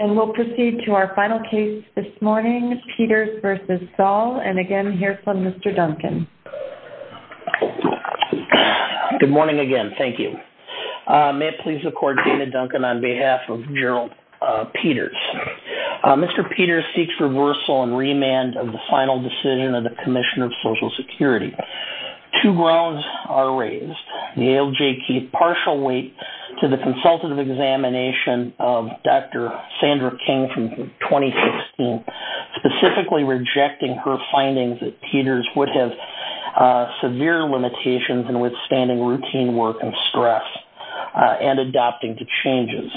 And we'll proceed to our final case this morning, Peters v. Saul, and again hear from Mr. Duncan. Good morning again, thank you. May it please the court, Dana Duncan on behalf of Gerald Peters. Mr. Peters seeks reversal and remand of the final decision of the Commissioner of Social Security. Two grounds are raised. The ALJ keyed partial weight to the consultative examination of Dr. Sandra King from 2015, specifically rejecting her findings that Peters would have severe limitations in withstanding routine work and stress and adopting to changes.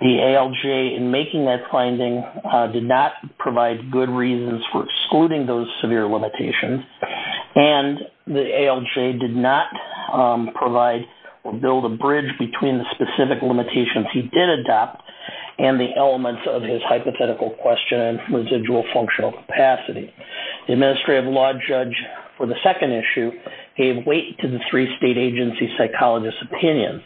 The ALJ in making that finding did not provide good reasons for excluding those severe limitations and the ALJ did not provide or build a bridge between the specific limitations he did adopt and the elements of his hypothetical question and residual functional capacity. The administrative law judge for the second issue gave weight to the three state agency psychologists' opinions.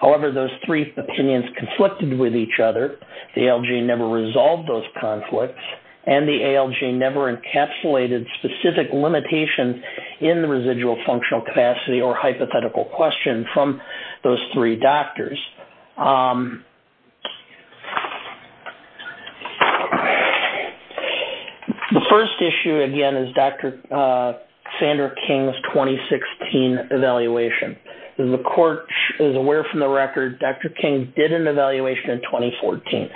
However, those three opinions conflicted with each other. The ALJ never resolved those conflicts and the ALJ never encapsulated specific limitations in the residual functional capacity or hypothetical question from those three doctors. The first issue again is Dr. Sandra King's 2016 evaluation. The court is aware from the record, Dr. King did an evaluation in 2014.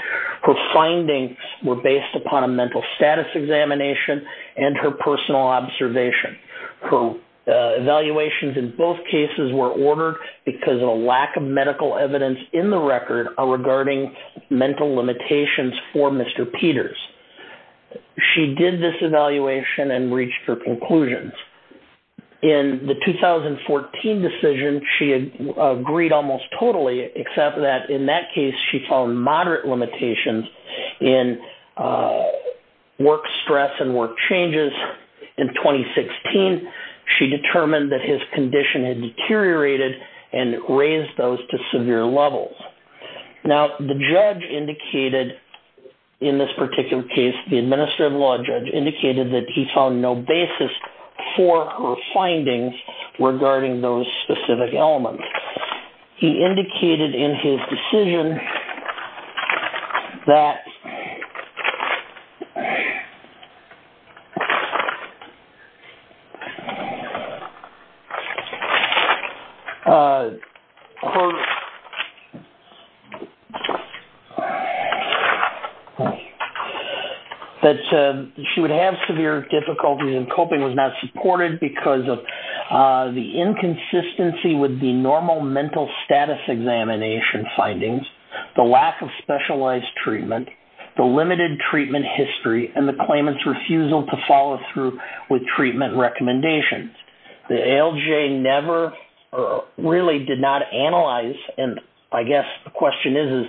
Her findings were based upon a mental status examination and her personal observation. Her evaluations in both cases were ordered because of a lack of medical evidence in the record regarding mental limitations for Mr. Peters. She did this except that in that case, she found moderate limitations in work stress and work changes. In 2016, she determined that his condition had deteriorated and raised those to severe levels. Now, the judge indicated in this particular case, the administrative law judge indicated that he decision that she would have severe difficulties in coping was not supported because of the inconsistency with the normal mental status examination findings, the lack of specialized treatment, the limited treatment history, and the claimant's refusal to follow through with treatment recommendations. The ALJ never really did not analyze and I guess the question is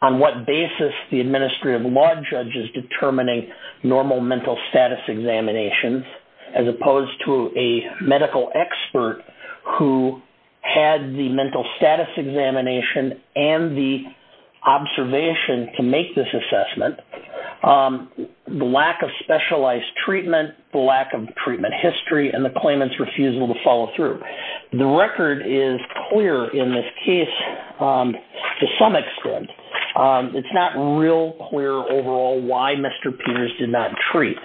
on what basis the administrative law judge is determining normal mental status examinations as opposed to a medical expert who had the mental status examination and the observation to make this assessment, the lack of specialized treatment, the lack of treatment history, and the claimant's refusal to follow through. The record is clear in this case to some extent. It's not real clear overall why Mr. Peters did not treat,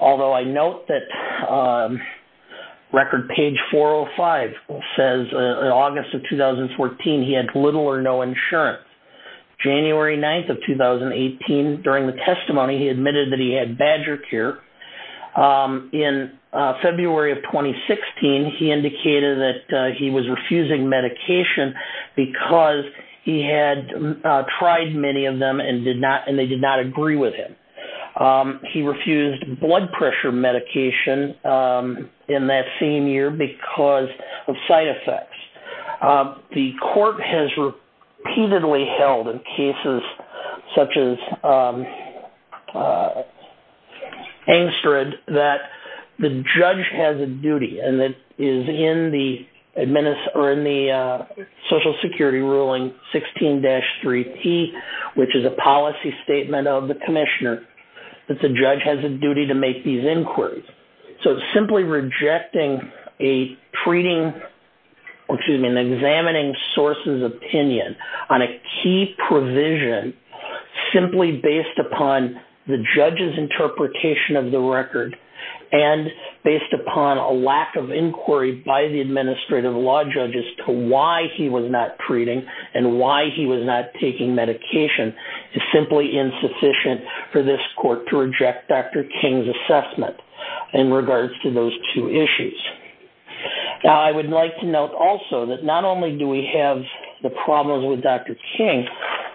although I note that record page 405 says in August of 2014, he had little or no insurance. January 9th of 2018, during the testimony, he admitted that he had badger care. In February of 2016, he indicated that he was refusing medication because he had tried many of them and they did not agree with him. He refused blood pressure medication in that same year because of side effects. The court has repeatedly held in cases such as that the judge has a duty and that is in the Social Security ruling 16-3P, which is a policy statement of the commissioner, that the judge has a duty to make these inquiries. Simply rejecting an examining source's opinion on a key provision simply based upon the judge's interpretation of record and based upon a lack of inquiry by the administrative law judge as to why he was not treating and why he was not taking medication is simply insufficient for this court to reject Dr. King's assessment in regards to those two issues. I would like to note also that not only do we have the problems with Dr. King,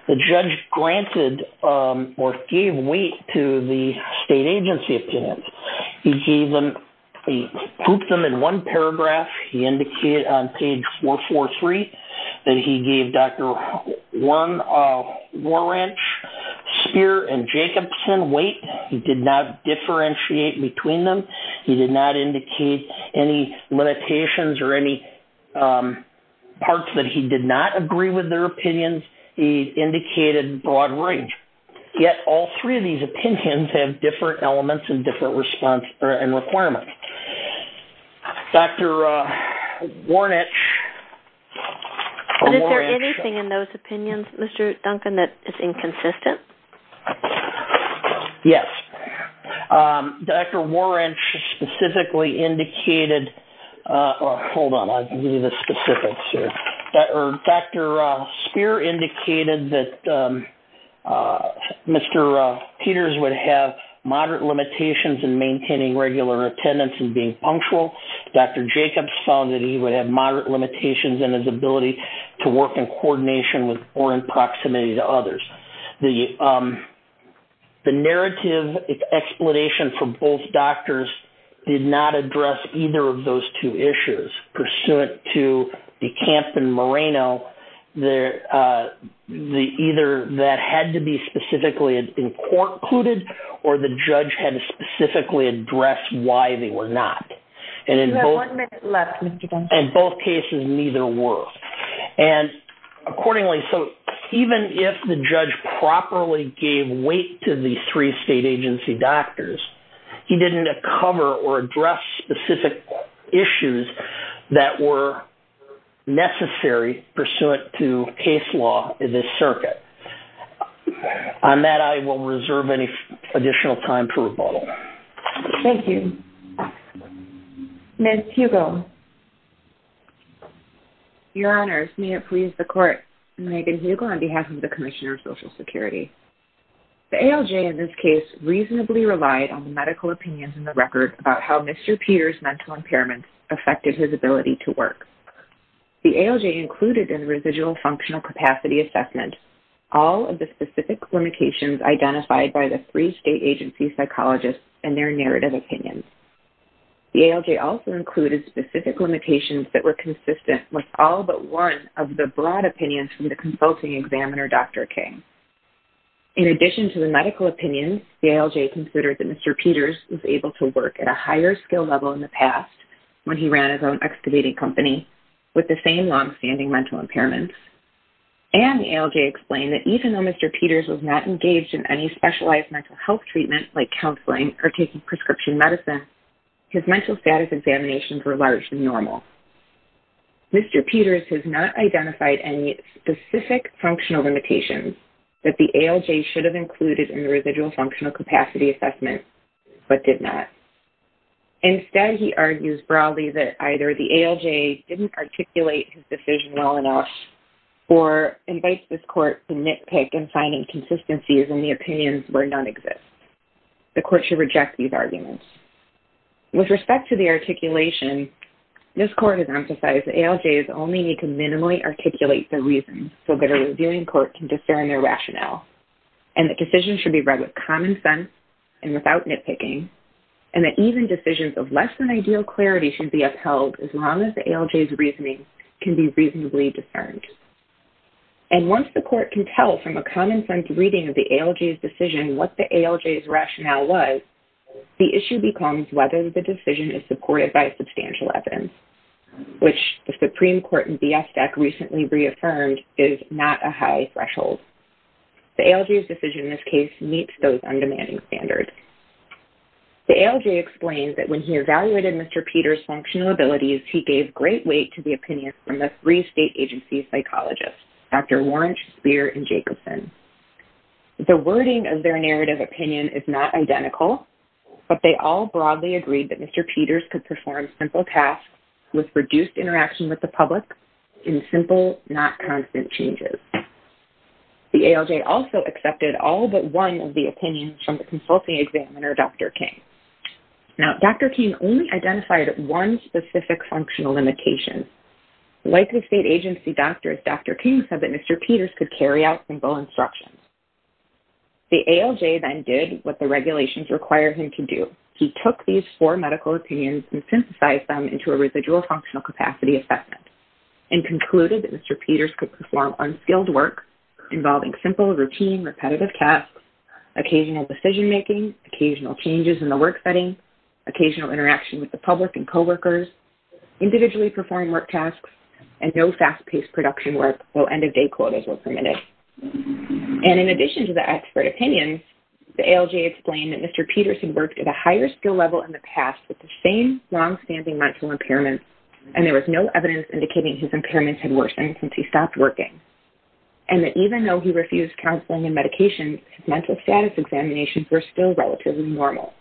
the judge granted or gave weight to the state agency opinion. He grouped them in one paragraph. He indicated on page 443 that he gave Dr. Warren, Speer, and Jacobson weight. He did not differentiate between them. He did not indicate any limitations or any parts that he did not agree with their opinions. He indicated broad range. Yet, all three of these opinions have different elements and different response and requirements. Dr. Warnick. Is there anything in those opinions, Mr. Duncan, that is inconsistent? Yes. Dr. Speer indicated that Mr. Peters would have moderate limitations in maintaining regular attendance and being punctual. Dr. Jacobs found that he would have moderate limitations in his attendance. The narrative explanation for both doctors did not address either of those two issues pursuant to DeCamp and Moreno. Either that had to be specifically included or the judge had to specifically address why they were not. You have one minute left, Mr. Duncan. Both cases, neither were. Accordingly, even if the judge properly gave weight to the three state agency doctors, he did not cover or address specific issues that were necessary pursuant to case law in this circuit. On that, I will reserve any additional time for rebuttal. Thank you. Ms. Hugo. Your Honors, may it please the court. Megan Hugo on behalf of the Commissioner of Social Security. The ALJ in this case reasonably relied on the medical opinions in the record about how Mr. Peters' mental impairments affected his ability to work. The ALJ included in the residual functional capacity assessment all of the specific limitations identified by the three state agency psychologists and their narrative opinions. The ALJ also included specific limitations that were consistent with all but one of the broad opinions from the consulting examiner, Dr. King. In addition to the medical opinions, the ALJ considered that Mr. Peters was able to work at a higher skill level in the past when he ran his own excavating company with the same long-standing mental impairments. And the ALJ explained that even though Mr. Peters was not engaged in any or taking prescription medicine, his mental status examinations were large and normal. Mr. Peters has not identified any specific functional limitations that the ALJ should have included in the residual functional capacity assessment but did not. Instead, he argues broadly that either the ALJ didn't articulate his decision well enough or invites this court to nitpick in finding consistencies in the opinions where none exist. The court should reject these arguments. With respect to the articulation, this court has emphasized that ALJs only need to minimally articulate the reasons so that a reviewing court can discern their rationale and that decisions should be read with common sense and without nitpicking and that even decisions of less than ideal clarity should be upheld as long as the ALJ's reasoning can be reasonably discerned. And once the court can tell from a common sense reading of the ALJ's decision what the ALJ's rationale was, the issue becomes whether the decision is supported by substantial evidence, which the Supreme Court in Viestek recently reaffirmed is not a high threshold. The ALJ's decision in this case meets those undemanding standards. The ALJ explains that when he evaluated Mr. Peters' functional abilities, he gave great weight to the opinion from the three is not identical, but they all broadly agreed that Mr. Peters could perform simple tasks with reduced interaction with the public in simple, not constant changes. The ALJ also accepted all but one of the opinions from the consulting examiner, Dr. King. Now, Dr. King only identified one specific functional limitation. Like the state agency doctors, Dr. King said that Mr. Peters' ALJ then did what the regulations required him to do. He took these four medical opinions and synthesized them into a residual functional capacity assessment and concluded that Mr. Peters could perform unskilled work involving simple, routine, repetitive tasks, occasional decision making, occasional changes in the work setting, occasional interaction with the public and coworkers, individually performing work tasks, and no fast-paced production work, though end-of-day quotas were permitted. And in addition to the expert opinions, the ALJ explained that Mr. Peters had worked at a higher skill level in the past with the same long-standing mental impairment, and there was no evidence indicating his impairments had worsened since he stopped working, and that even though he refused counseling and medication, his mental status examinations were still relatively normal.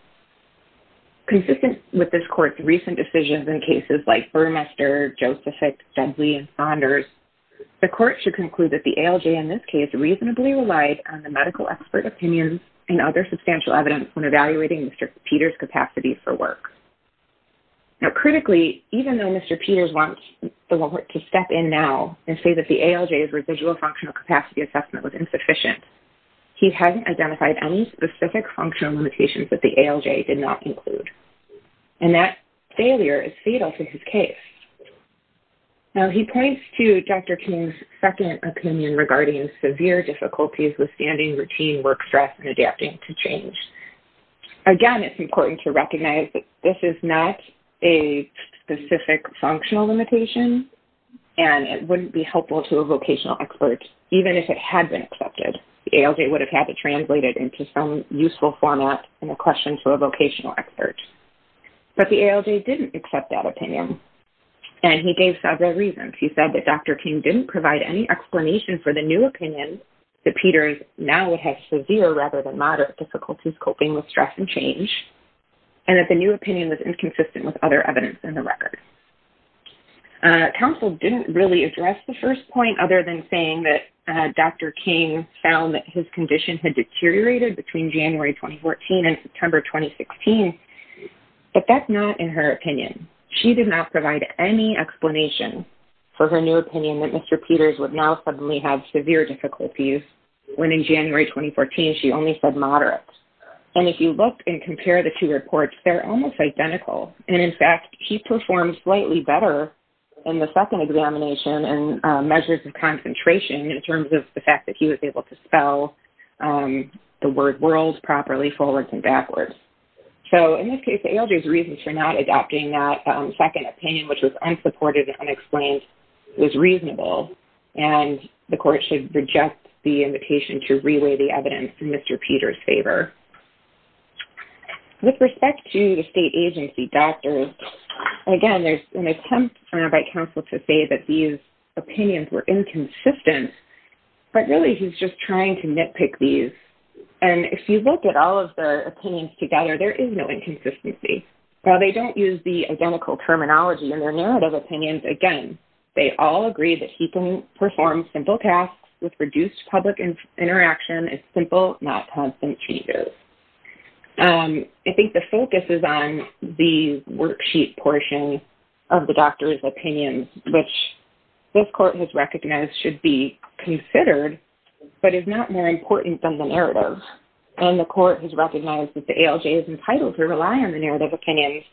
Consistent with this court's recent decisions in cases like Burmester, Josephick, Dudley, and Saunders, the court should conclude that the ALJ in this case reasonably relied on the medical expert opinions and other substantial evidence when evaluating Mr. Peters' capacity for work. Now, critically, even though Mr. Peters wants the work to step in now and say that the ALJ's residual functional capacity assessment was insufficient, he hadn't identified any specific functional limitations that the ALJ did not in his case. Now, he points to Dr. King's second opinion regarding severe difficulties with standing routine work stress and adapting to change. Again, it's important to recognize that this is not a specific functional limitation, and it wouldn't be helpful to a vocational expert, even if it had been accepted. The ALJ would have had to translate it into some useful format in a question to a vocational expert, but the ALJ didn't accept that opinion, and he gave several reasons. He said that Dr. King didn't provide any explanation for the new opinion that Peters now would have severe rather than moderate difficulties coping with stress and change, and that the new opinion was inconsistent with other evidence in the record. Counsel didn't really address the first point, other than saying that Dr. King found that his report was consistent with the report of 2014 and September 2016, but that's not in her opinion. She did not provide any explanation for her new opinion that Mr. Peters would now suddenly have severe difficulties, when in January 2014, she only said moderate. And if you look and compare the two reports, they're almost identical. And in fact, he performed slightly better in the second examination and measures of concentration in terms of the fact that he was able to spell the word world properly forwards and backwards. So in this case, the ALJ's reasons for not adopting that second opinion, which was unsupported and unexplained, was reasonable, and the court should reject the invitation to reweigh the evidence in Mr. Peters' favor. With respect to the state agency doctors, again, there's an attempt by counsel to say that these opinions were inconsistent, but really, he's just trying to nitpick these. And if you look at all of their opinions together, there is no inconsistency. While they don't use the identical terminology in their narrative opinions, again, they all agree that he can perform simple tasks with reduced public interaction and simple, not constant changes. I think the focus is on the worksheet portion of the doctor's opinions, which this court has recognized should be considered, but is not more important than the narrative. And the court has recognized that the ALJ is entitled to rely on the narrative opinions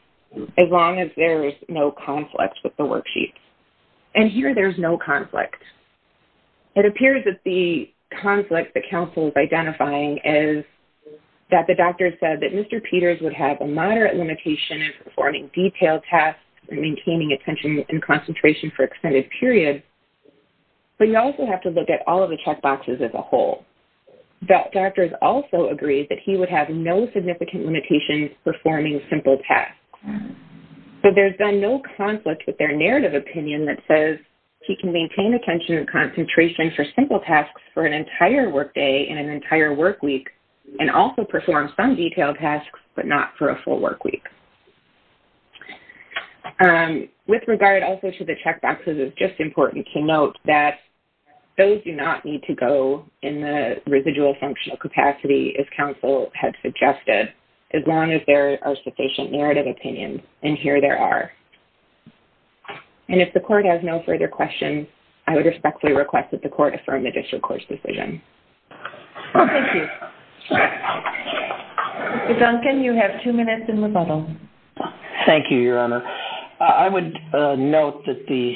as long as there is no conflict with the worksheets. And here, there's no conflict. It appears that the conflict the counsel is identifying is that the doctor said that Mr. Peters would have a moderate limitation in performing detailed tasks and maintaining attention and concentration for extended periods, but you also have to look at all of the check boxes as a whole. The doctors also agree that he would have no significant limitations performing simple tasks. So there's been no conflict with their narrative opinion that says he can maintain attention and concentration for simple tasks for an entire workday and an entire workweek, and also perform some detailed tasks, but not for a full workweek. With regard also to the check boxes, it's just important to note that those do not need to go in the residual functional capacity as counsel had suggested, as long as there are sufficient narrative opinions, and here there are. And if the court has no further questions, I would respectfully request that the court affirm the district court's decision. Thank you. Mr. Duncan, you have two minutes in rebuttal. Thank you, your honor. I would note that the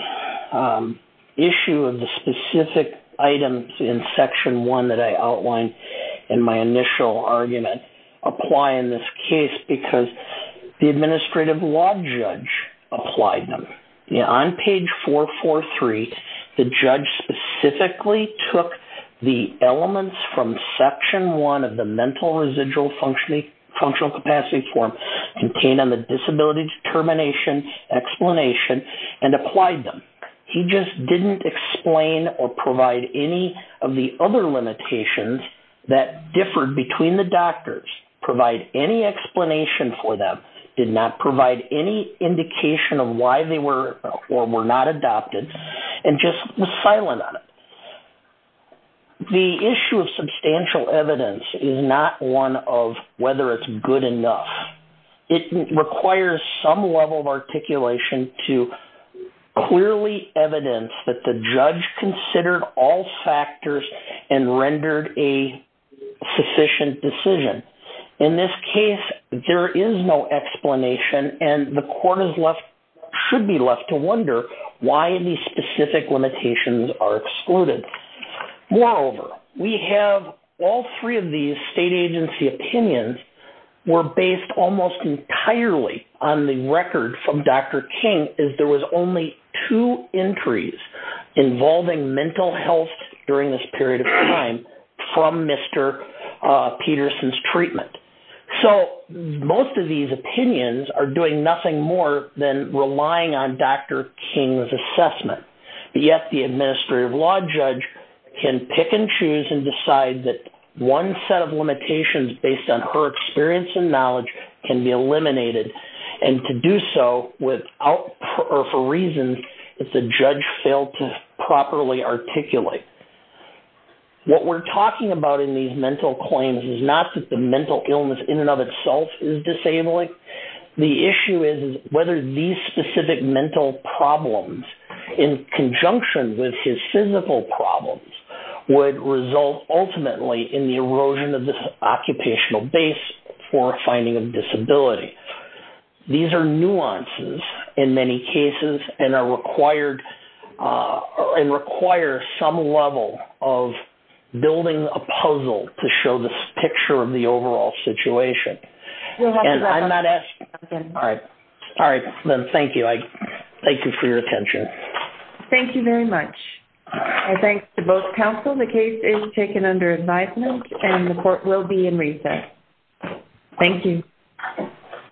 issue of the specific items in section one that I outlined in my initial argument apply in this case because the administrative law judge applied them. On page 443, the judge specifically took the elements from section one of the mental residual functional capacity form contained on the disability determination explanation and applied them. He just didn't explain or provide any of the other limitations that differed between the doctors, provide any explanation for them, did not provide any indication of why they were or were not adopted, and just was silent on it. The issue of substantial evidence is not one of whether it's good enough. It requires some level of articulation to clearly evidence that the judge considered all factors and rendered a sufficient decision. In this case, there is no explanation, and the court should be left to Moreover, we have all three of these state agency opinions were based almost entirely on the record from Dr. King as there was only two entries involving mental health during this period of time from Mr. Peterson's treatment. So, most of these opinions are doing nothing more than relying on Dr. King's assessment. Yet, the administrative law judge can pick and choose and decide that one set of limitations based on her experience and knowledge can be eliminated, and to do so without or for reasons that the judge failed to properly articulate. What we're talking about in these mental claims is not that the mental illness in and of itself is disabling. The issue is whether these specific mental problems in conjunction with his physical problems would result ultimately in the erosion of the occupational base for finding a disability. These are nuances in many cases and require some level of building a puzzle to show the picture of the overall situation. Thank you for your attention. Thank you very much. Thanks to both counsel. The case is taken under advisement, and the court will be in recess. Thank you.